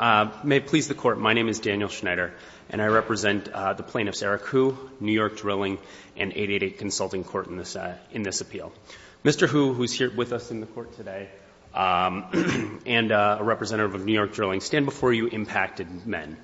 May it please the Court, my name is Daniel Schneider, and I represent the plaintiffs Eric Hu, New York Drilling, and 888 Consulting Court in this appeal. Mr. Hu, who is here with us in the Court today, and a representative of New York Drilling, stand before you impacted men,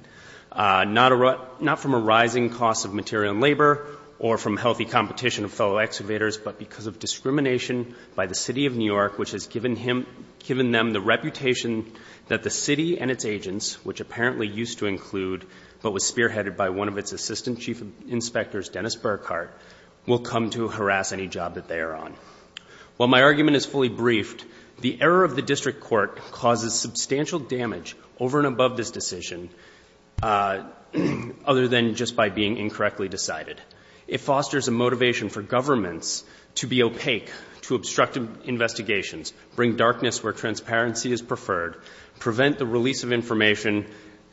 not from a rising cost of material and labor or from healthy competition of fellow excavators, but because of discrimination by the City of New York, which has given them the reputation that the City and its agents, which apparently used to include, but was spearheaded by one of its Assistant Chief Inspectors, Dennis Burkhart, will come to harass any job that they are on. While my argument is fully briefed, the error of the District Court causes substantial damage over and above this decision, other than just by being incorrectly decided. It fosters a motivation for governments to be opaque, to obstruct investigations, bring darkness where transparency is preferred, prevent the release of information,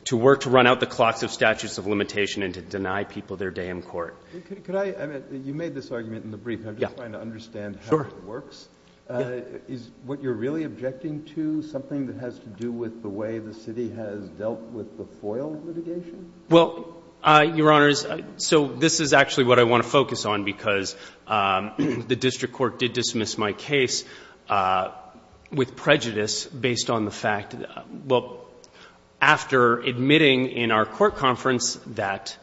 to work to run out the clocks of statutes of limitation, and to deny people their day in court. You made this argument in the brief, and I'm just trying to understand how it works. Is what you're really objecting to something that has to do with the way the City has dealt with the FOIL litigation? Well, Your Honors, so this is actually what I want to focus on, because the District Court did dismiss my case with prejudice based on the fact that, well, after admitting in our court conference that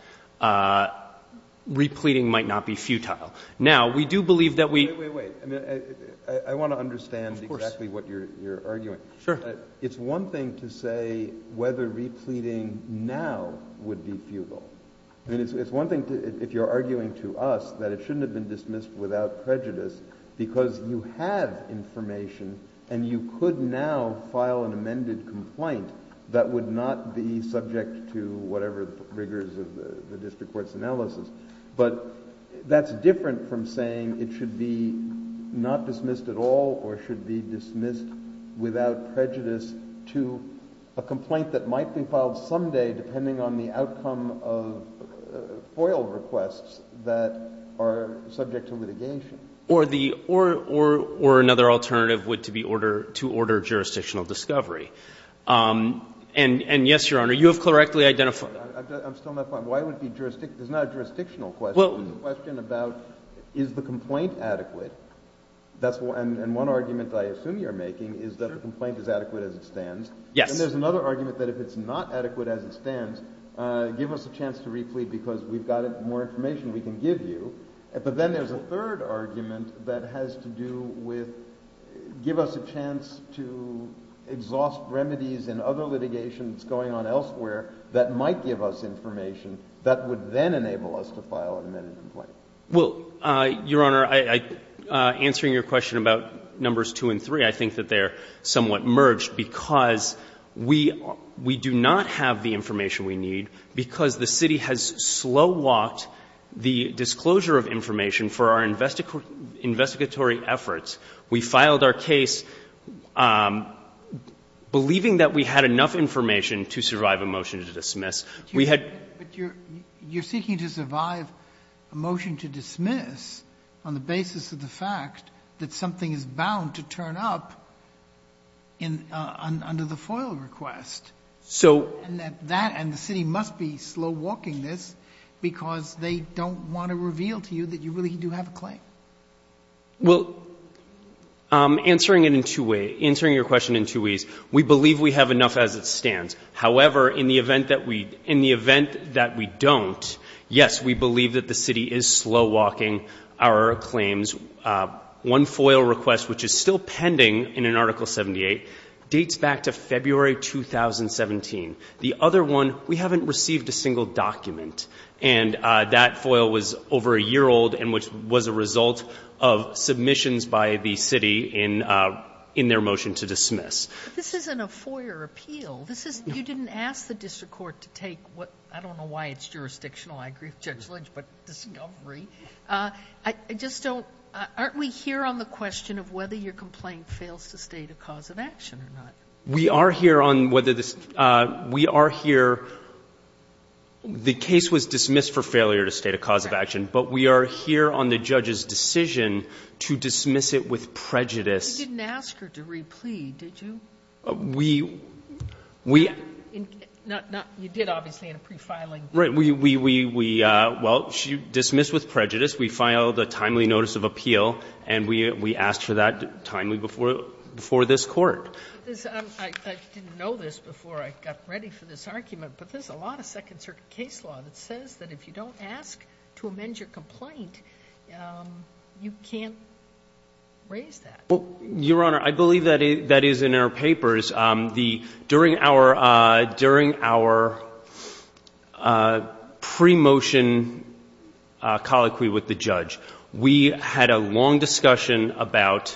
repleting might not be futile. Now, we do believe that we — Wait, wait, wait. I mean, I want to understand exactly what you're arguing. Sure. It's one thing to say whether repleting now would be futile. I mean, it's one thing if you're arguing to us that it shouldn't have been dismissed without prejudice, because you have information, and you could now file an amended complaint that would not be subject to whatever rigors of the District Court's analysis. But that's different from saying it should be not dismissed at all, or should be dismissed without prejudice to a complaint that might be filed someday, depending on the outcome of FOIL requests that are subject to litigation. Or the — or another alternative would to be order — to order jurisdictional discovery. And yes, Your Honor, you have correctly identified — I'm still not — why would it be — it's not a jurisdictional question. Well — It's a question about is the complaint adequate. That's — and one argument I assume you're making is that a complaint is adequate as it stands. Yes. And there's another argument that if it's not adequate as it stands, give us a chance to replete because we've got more information we can give you. But then there's a third argument that has to do with give us a chance to exhaust remedies in other litigations going on elsewhere that might give us information that would then enable us to file an amended complaint. Well, Your Honor, I — answering your question about numbers 2 and 3, I think that they're somewhat merged because we — we do not have the information we need because the city has slow-walked the disclosure of information for our investigatory efforts. We filed our case believing that we had enough information to survive a motion to dismiss. We had — But you're seeking to survive a motion to dismiss on the basis of the fact that something is bound to turn up in — under the FOIL request. So — And that — and the city must be slow-walking this because they don't want to reveal to you that you really do have a claim. Well, answering it in two ways — answering your question in two ways, we believe we have enough as it stands. However, in the event that we — in the event that we don't, yes, we believe that the city is slow-walking our claims. One FOIL request, which is still pending in an Article 78, dates back to February 2017. The other one, we haven't received a single document. And that FOIL was over a year old and which was a result of submissions by the city in — in their motion to dismiss. But this isn't a FOIA appeal. This isn't — you didn't ask the district court to take what — I don't know why it's jurisdictional. I agree with Judge Lynch, but discovery. I just don't — aren't we here on the question of whether your complaint fails to state a cause of action or not? We are here on whether this — we are here — the case was dismissed for failure to state a cause of action, but we are here on the judge's decision to dismiss it with prejudice. You didn't ask her to re-plead, did you? We — You did, obviously, in a pre-filing. Right. We — well, she dismissed with prejudice. We filed a timely notice of appeal, and we asked for that timely before this Court. I didn't know this before I got ready for this argument, but there's a lot of Second Circuit case law that says that if you don't ask to amend your complaint, you can't raise that. Well, Your Honor, I believe that is in our papers. The — during our — during our pre-motion colloquy with the judge, we had a long discussion about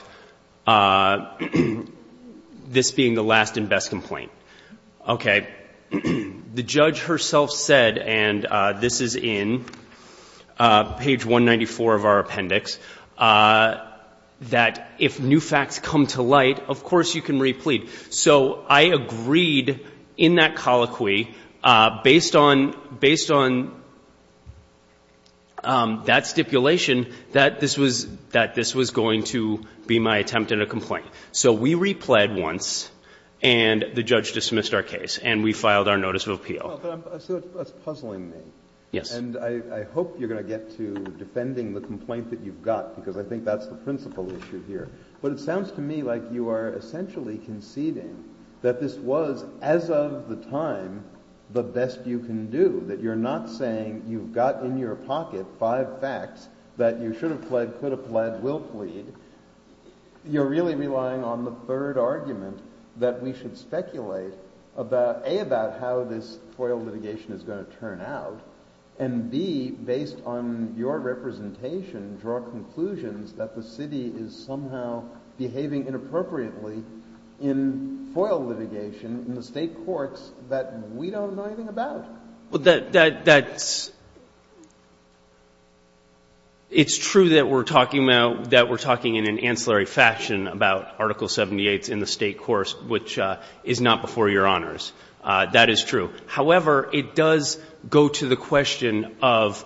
this being the last and best complaint. Okay. The judge herself said, and this is in page 194 of our appendix, that if no other new facts come to light, of course you can re-plead. So I agreed in that colloquy, based on — based on that stipulation, that this was — that this was going to be my attempt at a complaint. So we re-pled once, and the judge dismissed our case, and we filed our notice of appeal. But I'm — so that's puzzling me. Yes. And I hope you're going to get to defending the complaint that you've got, because I think that's the principal issue here. But it sounds to me like you are essentially conceding that this was, as of the time, the best you can do, that you're not saying you've got in your pocket five facts that you should have pled, could have pled, will plead. You're really relying on the third argument, that we should speculate about — A, about how this FOIL litigation is going to turn out, and B, based on your representation, draw conclusions that the city is somehow behaving inappropriately in FOIL litigation in the State courts that we don't know anything about. Well, that — that's — it's true that we're talking about — that we're talking in an ancillary fashion about Article 78s in the State courts, which is not before Your Honors. That is true. However, it does go to the question of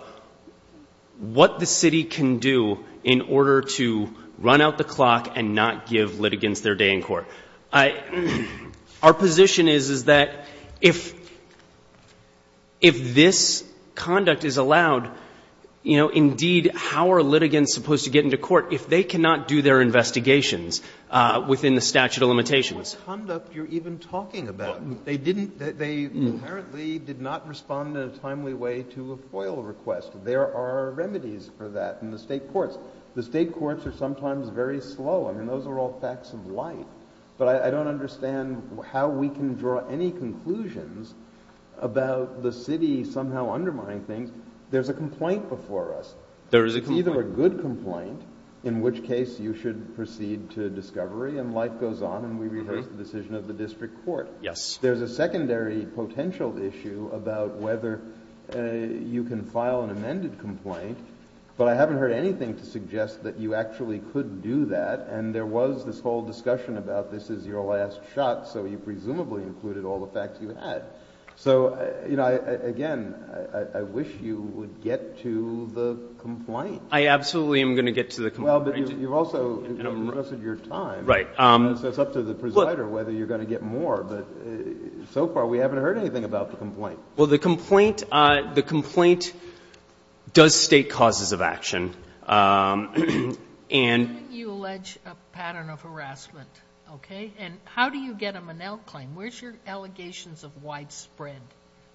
what the city can do in order to run out the clock and not give litigants their day in court. Our position is, is that if — if this conduct is allowed, you know, indeed, how are litigants supposed to get into court if they cannot do their investigations within the statute of limitations? What conduct you're even talking about? They didn't — they apparently did not respond in a timely way to a FOIL request. There are remedies for that in the State courts. The State courts are sometimes very slow. I mean, those are all facts of life. But I don't understand how we can draw any conclusions about the city somehow undermining things. There's a complaint before us. There is a complaint. It's either a good complaint, in which case you should proceed to discovery, and life goes on, and we rehearse the decision of the district court. Yes. There's a secondary potential issue about whether you can file an amended complaint, but I haven't heard anything to suggest that you actually could do that, and there was this whole discussion about this is your last shot, so you presumably included all the facts you had. So, you know, again, I wish you would get to the complaint. I absolutely am going to get to the complaint. Well, but you've also invested your time. Right. So it's up to the presider whether you're going to get more, but so far we haven't heard anything about the complaint. Well, the complaint does state causes of action. You allege a pattern of harassment, okay? And how do you get them an out claim? Where's your allegations of widespread?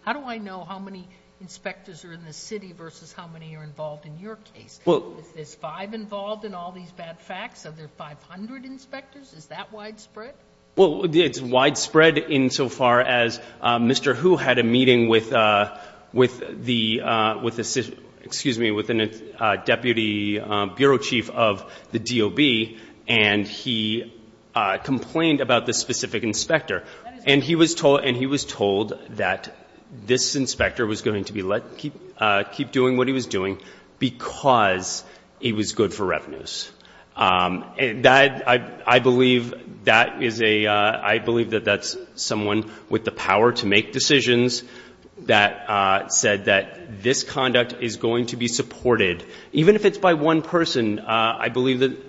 How do I know how many inspectors are in the city versus how many are involved in your case? Is this five involved in all these bad facts? Are there 500 inspectors? Is that widespread? Well, it's widespread insofar as Mr. Hu had a meeting with the, with the, excuse me, with a deputy bureau chief of the DOB, and he complained about this specific inspector. And he was told that this inspector was going to be let keep doing what he was doing because he was good for revenues. That, I believe, that is a, I believe that that's someone with the power to make decisions that said that this conduct is going to be supported. Even if it's by one person, I believe that.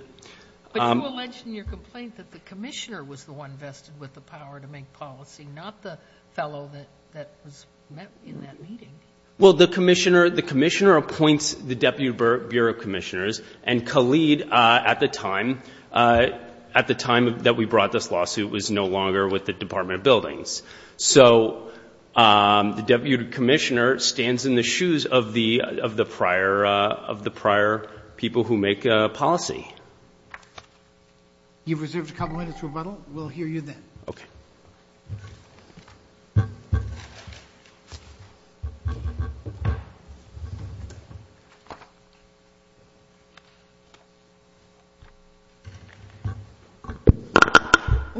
But you allege in your complaint that the commissioner was the one vested with the power to make policy, not the fellow that was met in that meeting. Well, the commissioner, the commissioner appoints the deputy bureau commissioners, and Khalid at the time, at the time that we brought this lawsuit, was no longer with the Department of Buildings. So the deputy commissioner stands in the shoes of the prior, of the prior people who make policy. You've reserved a couple minutes for rebuttal. We'll hear you then. Okay. Thank you.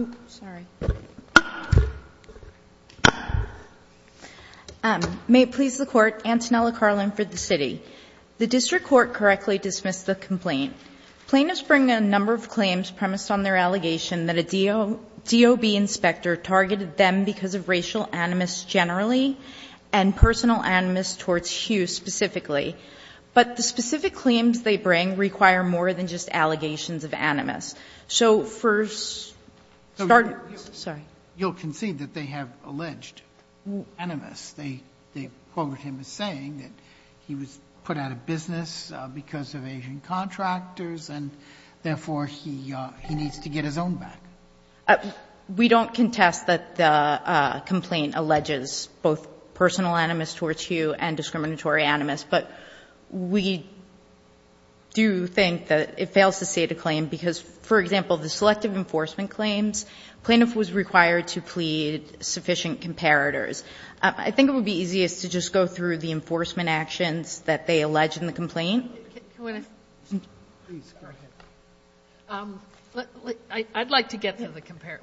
Oops, sorry. May it please the court, Antonella Carlin for the city. The district court correctly dismissed the complaint. Plaintiffs bring a number of claims premised on their allegation that a DOB inspector targeted them because of racial animus generally and personal animus towards Hughes specifically. But the specific claims they bring require more than just allegations of animus. So for start, sorry. Sotomayor, you'll concede that they have alleged animus. They quote him as saying that he was put out of business because of Asian contractors and therefore he needs to get his own back. We don't contest that the complaint alleges both personal animus towards Hughes and discriminatory animus. But we do think that it fails to state a claim because, for example, the selective enforcement claims, plaintiff was required to plead sufficient comparators. I think it would be easiest to just go through the enforcement actions that they allege in the complaint. I'd like to get to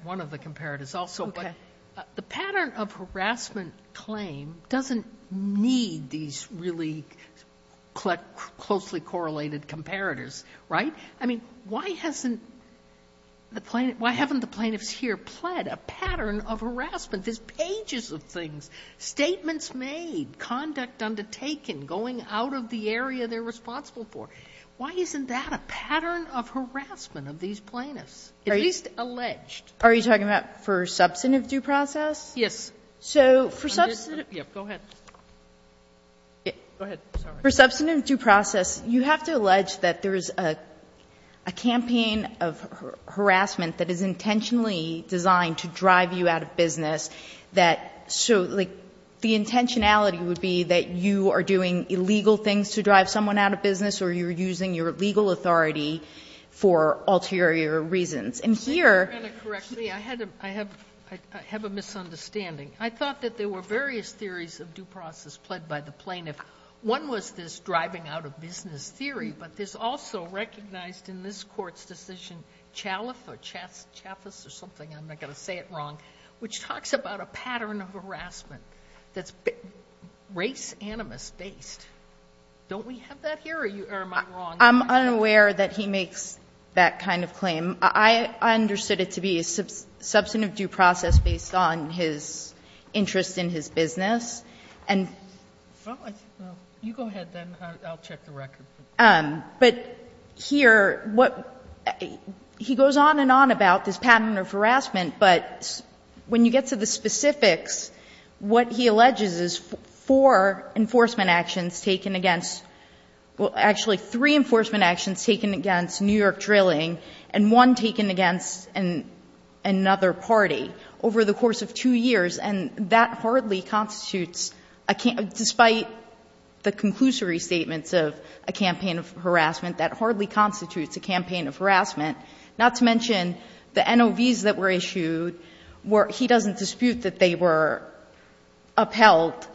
one of the comparators also. Okay. But the pattern of harassment claim doesn't need these really closely correlated comparators, right? I mean, why haven't the plaintiffs here pled a pattern of harassment? There's pages of things, statements made, conduct undertaken, going out of the area they're responsible for. Why isn't that a pattern of harassment of these plaintiffs, at least alleged? Are you talking about for substantive due process? Yes. So for substantive due process, you have to allege that there is a campaign of harassment that is intentionally designed to drive you out of business, that so, like, the intentionality would be that you are doing illegal things to drive someone out of business or you're using your legal authority for ulterior reasons. And here you have a misunderstanding. I thought that there were various theories of due process pled by the plaintiff. One was this driving out of business theory, but this also recognized in this Court's decision, Chaliff or Chaffess or something, I'm not going to say it wrong, which talks about a pattern of harassment that's race animus based. Don't we have that here? Or am I wrong? I'm unaware that he makes that kind of claim. I understood it to be a substantive due process based on his interest in his business. You go ahead, then. I'll check the record. But here, he goes on and on about this pattern of harassment, but when you get to the specifics, what he alleges is four enforcement actions taken against, well, actually three enforcement actions taken against New York Drilling and one taken against another party over the course of two years. And that hardly constitutes, despite the conclusory statements of a campaign of harassment, that hardly constitutes a campaign of harassment, not to mention the NOVs that were issued where he doesn't dispute that they were upheld.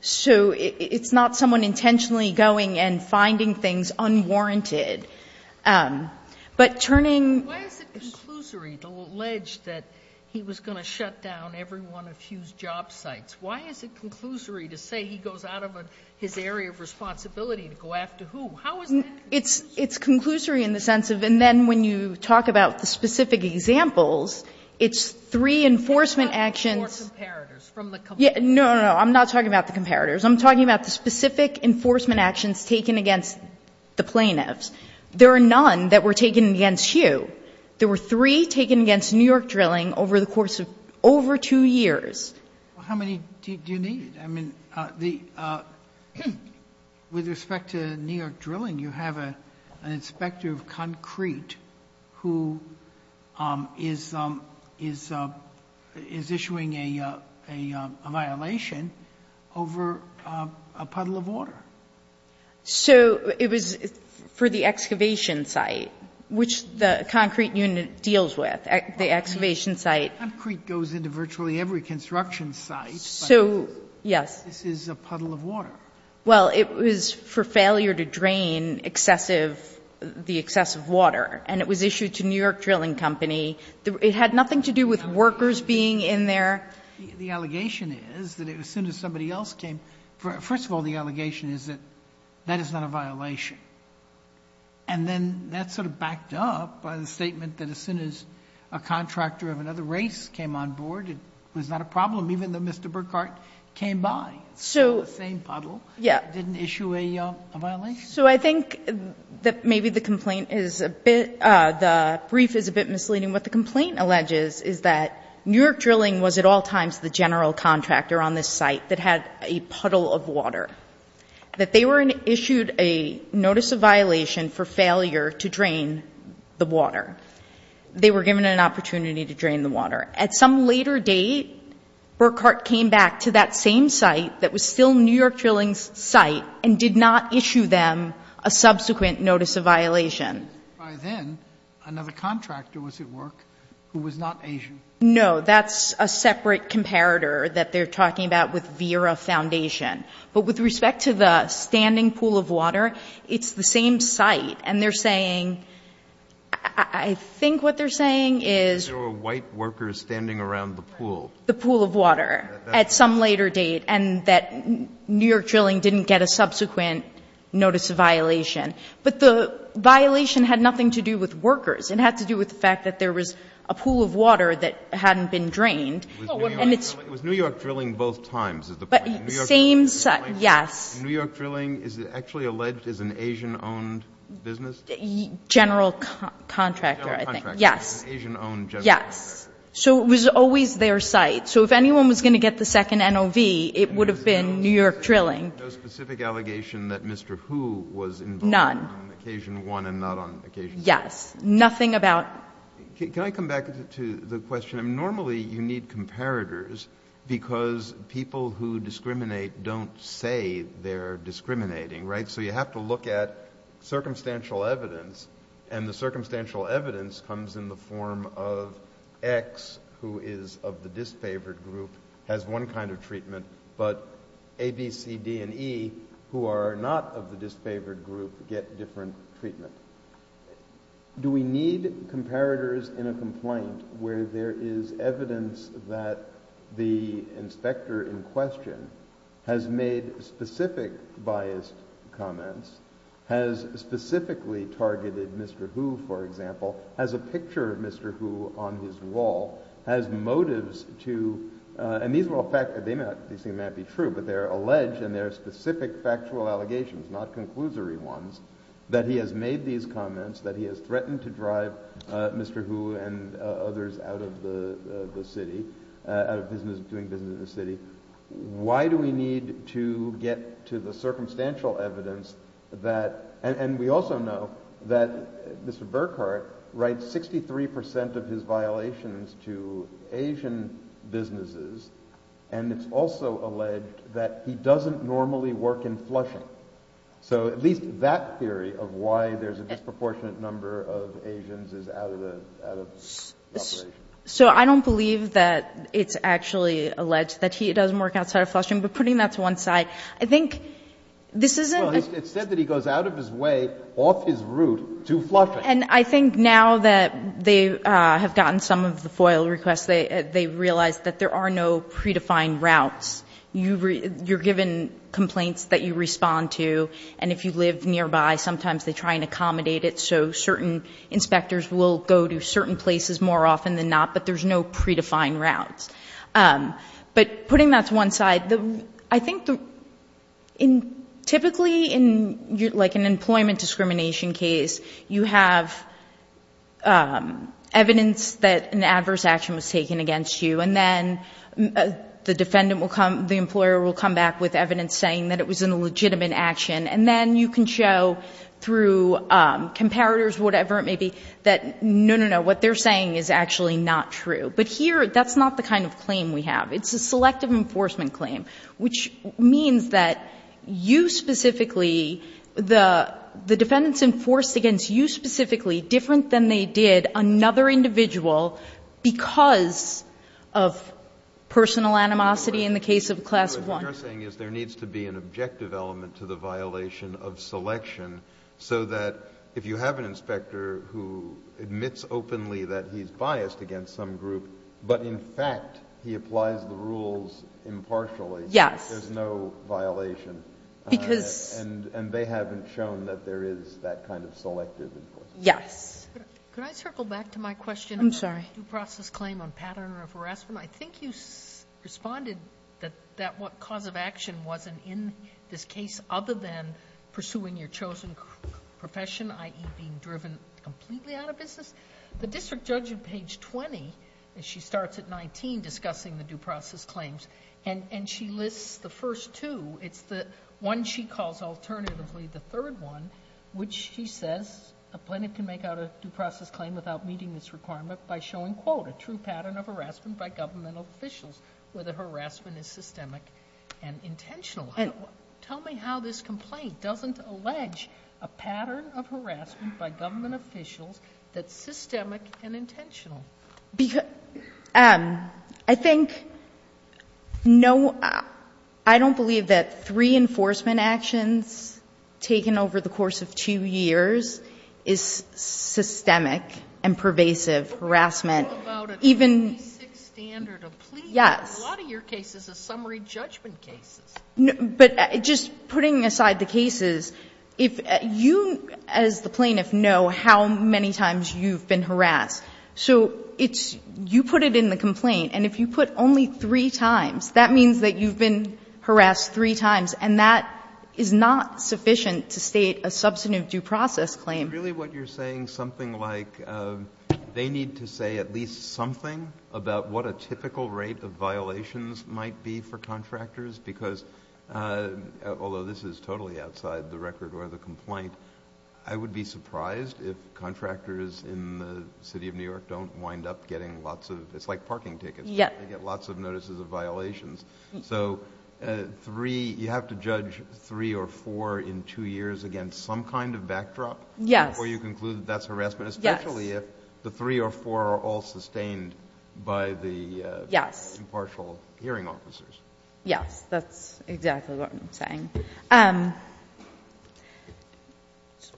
So it's not someone intentionally going and finding things unwarranted. But turning to the legs that he was going to shut down his business. He was going to shut down every one of Hugh's job sites. Why is it conclusory to say he goes out of his area of responsibility to go after Hugh? How is that conclusory? It's conclusory in the sense of, and then when you talk about the specific examples, it's three enforcement actions. They're not four comparators from the complaint. No, no, no. I'm not talking about the comparators. I'm talking about the specific enforcement actions taken against the plaintiffs. There are none that were taken against Hugh. There were three taken against New York Drilling over the course of over two years. How many do you need? I mean, with respect to New York Drilling, you have an inspector of concrete who is issuing a violation over a puddle of water. So it was for the excavation site, which the concrete unit deals with. The excavation site. Concrete goes into virtually every construction site. So, yes. This is a puddle of water. Well, it was for failure to drain excessive, the excessive water. And it was issued to New York Drilling Company. It had nothing to do with workers being in there. The allegation is that as soon as somebody else came, first of all, the allegation is that that is not a violation. And then that sort of backed up by the statement that as soon as a contractor of another race came on board, it was not a problem, even though Mr. Burkhart came by. So. The same puddle. Yes. Didn't issue a violation. So I think that maybe the complaint is a bit, the brief is a bit misleading. What the complaint alleges is that New York Drilling was at all times the general contractor on this site that had a puddle of water. That they were issued a notice of violation for failure to drain the water. They were given an opportunity to drain the water. At some later date, Burkhart came back to that same site that was still New York Drilling's site and did not issue them a subsequent notice of violation. By then, another contractor was at work who was not Asian. No. That's a separate comparator that they're talking about with Vera Foundation. But with respect to the standing pool of water, it's the same site. And they're saying, I think what they're saying is. There were white workers standing around the pool. The pool of water. At some later date. And that New York Drilling didn't get a subsequent notice of violation. But the violation had nothing to do with workers. It had to do with the fact that there was a pool of water that hadn't been drained. And it's. It was New York Drilling both times is the point. Same site. Yes. New York Drilling is actually alleged as an Asian-owned business? General contractor, I think. General contractor. Yes. Asian-owned general contractor. Yes. So it was always their site. So if anyone was going to get the second NOV, it would have been New York Drilling. No specific allegation that Mr. Hu was involved. None. On occasion one and not on occasion two. Yes. Nothing about. Can I come back to the question? Normally you need comparators because people who discriminate don't say they're discriminating, right? So you have to look at circumstantial evidence. And the circumstantial evidence comes in the form of X, who is of the disfavored group, has one kind of treatment. But A, B, C, D, and E, who are not of the disfavored group, get different treatment. Do we need comparators in a complaint where there is evidence that the inspector in question has made specific biased comments? Has specifically targeted Mr. Hu, for example? Has a picture of Mr. Hu on his wall? Has motives to, and these things may not be true, but they're alleged and they're specific factual allegations, not conclusory ones, that he has made these comments, that he has threatened to drive Mr. Hu and others out of the city, out of doing business in the city. Why do we need to get to the circumstantial evidence that, and we also know that Mr. Burkhart writes 63% of his violations to Asian businesses, and it's also alleged that he doesn't normally work in flushing. So at least that theory of why there's a disproportionate number of Asians is out of the operation. So I don't believe that it's actually alleged that he doesn't work outside of flushing, but putting that to one side, I think this isn't a Well, it's said that he goes out of his way, off his route, to flushing. And I think now that they have gotten some of the FOIL requests, they realize that there are no predefined routes. You're given complaints that you respond to, and if you live nearby, sometimes they try and accommodate it so certain inspectors will go to certain places more often than not, but there's no predefined routes. But putting that to one side, I think typically in an employment discrimination case, you have evidence that an adverse action was taken against you, and then the defendant will come, the employer will come back with evidence saying that it was an illegitimate action, and then you can show through comparators, whatever it may be, that no, no, no, what they're saying is actually not true. But here, that's not the kind of claim we have. It's a selective enforcement claim, which means that you specifically, the defendant's enforced against you specifically, different than they did another individual because of personal animosity in the case of Class I. What you're saying is there needs to be an objective element to the violation of selection so that if you have an inspector who admits openly that he's biased against some group, but in fact he applies the rules impartially, there's no violation. Because And they haven't shown that there is that kind of selective enforcement. Yes. Could I circle back to my question? I'm sorry. I think you responded that what cause of action wasn't in this case other than pursuing your chosen profession, i.e. being driven completely out of business. The district judge in page 20, and she starts at 19 discussing the due process claims, and she lists the first two. It's the one she calls alternatively the third one, which she says a plaintiff can make out a due process claim without meeting this requirement by showing, quote, a true pattern of harassment by government officials where the harassment is systemic and intentional. Tell me how this complaint doesn't allege a pattern of harassment by government officials that's systemic and intentional. I think no, I don't believe that three enforcement actions taken over the course of two years is systemic and pervasive harassment. What about a basic standard of plea? Yes. A lot of your cases are summary judgment cases. But just putting aside the cases, if you as the plaintiff know how many times you've been harassed. So you put it in the complaint, and if you put only three times, that means that you've been harassed three times, and that is not sufficient to state a substantive due process claim. Is really what you're saying something like they need to say at least something about what a typical rate of violations might be for contractors? Because although this is totally outside the record or the complaint, I would be surprised if contractors in the city of New York don't wind up getting lots of, it's like parking tickets. They get lots of notices of violations. So you have to judge three or four in two years against some kind of backdrop before you conclude that that's harassment, especially if the three or four are all sustained by the impartial hearing officers. Yes, that's exactly what I'm saying.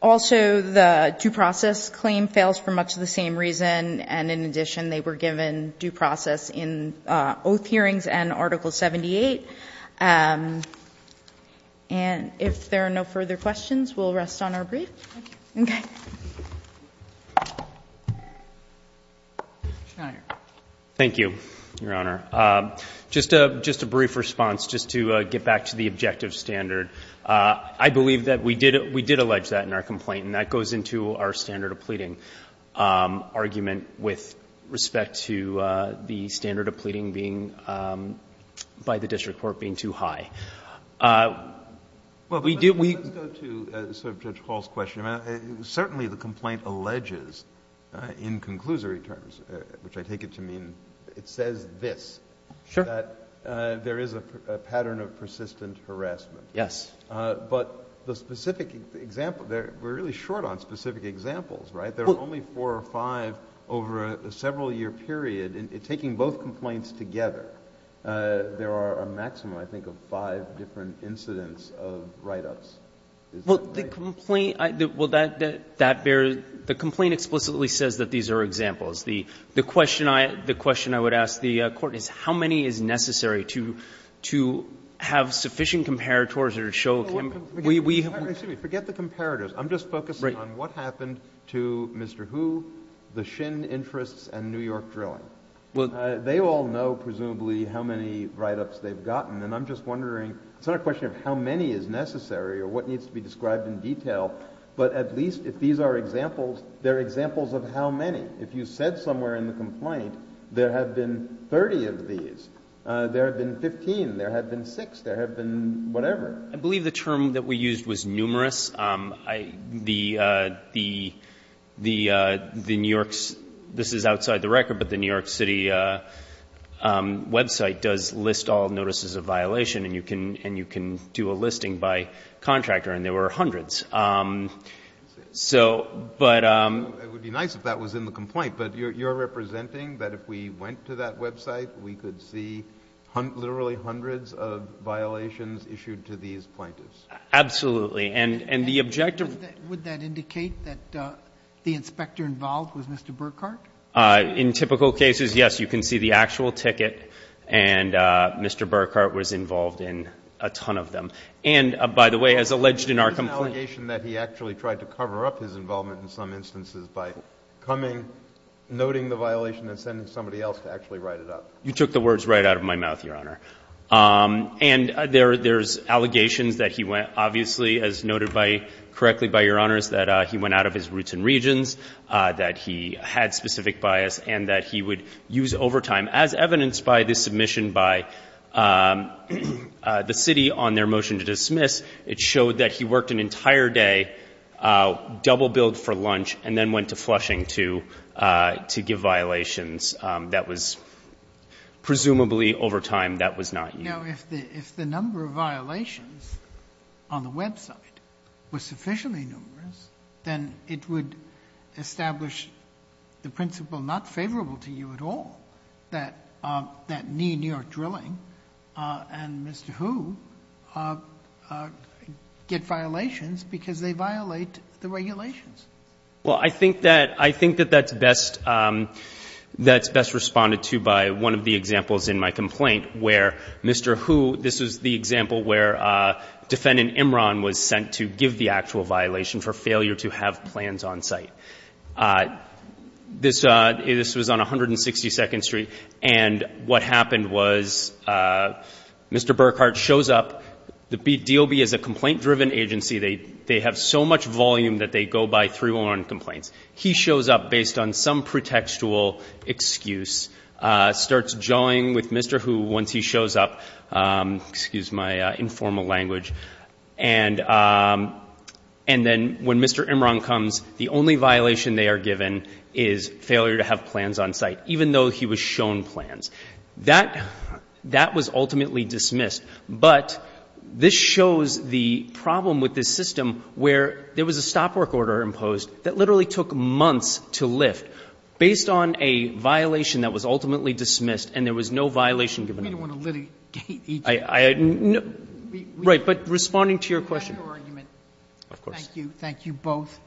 Also, the due process claim fails for much of the same reason. And in addition, they were given due process in oath hearings and Article 78. And if there are no further questions, we'll rest on our brief. Thank you. Okay. Thank you, Your Honor. Just a brief response just to get back to the objective standard. I believe that we did allege that in our complaint, and that goes into our standard of pleading argument with respect to the standard of pleading being, by the district court, being too high. We did we. Let's go to Judge Hall's question. Certainly the complaint alleges in conclusory terms, which I take it to mean it says this, that there is a pattern of persistent harassment. Yes. But the specific example, we're really short on specific examples, right? There are only four or five over a several-year period. Taking both complaints together, there are a maximum, I think, of five different incidents of write-ups. Well, the complaint, well, that bears, the complaint explicitly says that these are examples. The question I would ask the Court is how many is necessary to have sufficient comparators or to show that we have... Excuse me. Forget the comparators. I'm just focusing on what happened to Mr. Hu, the Shin interests, and New York Drilling. They all know, presumably, how many write-ups they've gotten, and I'm just wondering, it's not a question of how many is necessary or what needs to be described in detail, but at least if these are examples, they're examples of how many. If you said somewhere in the complaint there have been 30 of these, there have been 15, there have been six, there have been whatever. I believe the term that we used was numerous. The New York's, this is outside the record, but the New York City website does list all notices of violation, and you can do a listing by contractor, and there were hundreds. So, but... It would be nice if that was in the complaint, but you're representing that if we went to that website, we could see literally hundreds of violations issued to these plaintiffs. Absolutely, and the objective... Would that indicate that the inspector involved was Mr. Burkhart? In typical cases, yes. You can see the actual ticket, and Mr. Burkhart was involved in a ton of them. And, by the way, as alleged in our complaint... There's an allegation that he actually tried to cover up his involvement in some instances by coming, noting the violation, and sending somebody else to actually write it up. You took the words right out of my mouth, Your Honor. And there's allegations that he went, obviously, as noted correctly by Your Honors, that he went out of his roots and regions, that he had specific bias, and that he would use overtime. As evidenced by this submission by the city on their motion to dismiss, it showed that he worked an entire day, double-billed for lunch, and then went to Flushing to give violations. That was presumably overtime. That was not you. Now, if the number of violations on the website was sufficiently numerous, then it would establish the principle not favorable to you at all, that knee New York drilling and Mr. Hu get violations because they violate the regulations. Well, I think that that's best responded to by one of the examples in my complaint, where Mr. Hu, this is the example where Defendant Imran was sent to give the actual violation for failure to have plans on site. This was on 162nd Street. And what happened was Mr. Burkhart shows up. The DOB is a complaint-driven agency. They have so much volume that they go by 311 complaints. He shows up based on some pretextual excuse, starts jawing with Mr. Hu once he shows up. Excuse my informal language. And then when Mr. Imran comes, the only violation they are given is failure to have plans on site, even though he was shown plans. That was ultimately dismissed. But this shows the problem with this system where there was a stop work order imposed that literally took months to lift based on a violation that was ultimately dismissed and there was no violation given. Right. But responding to your question. Of course. Thank you. Thank you both.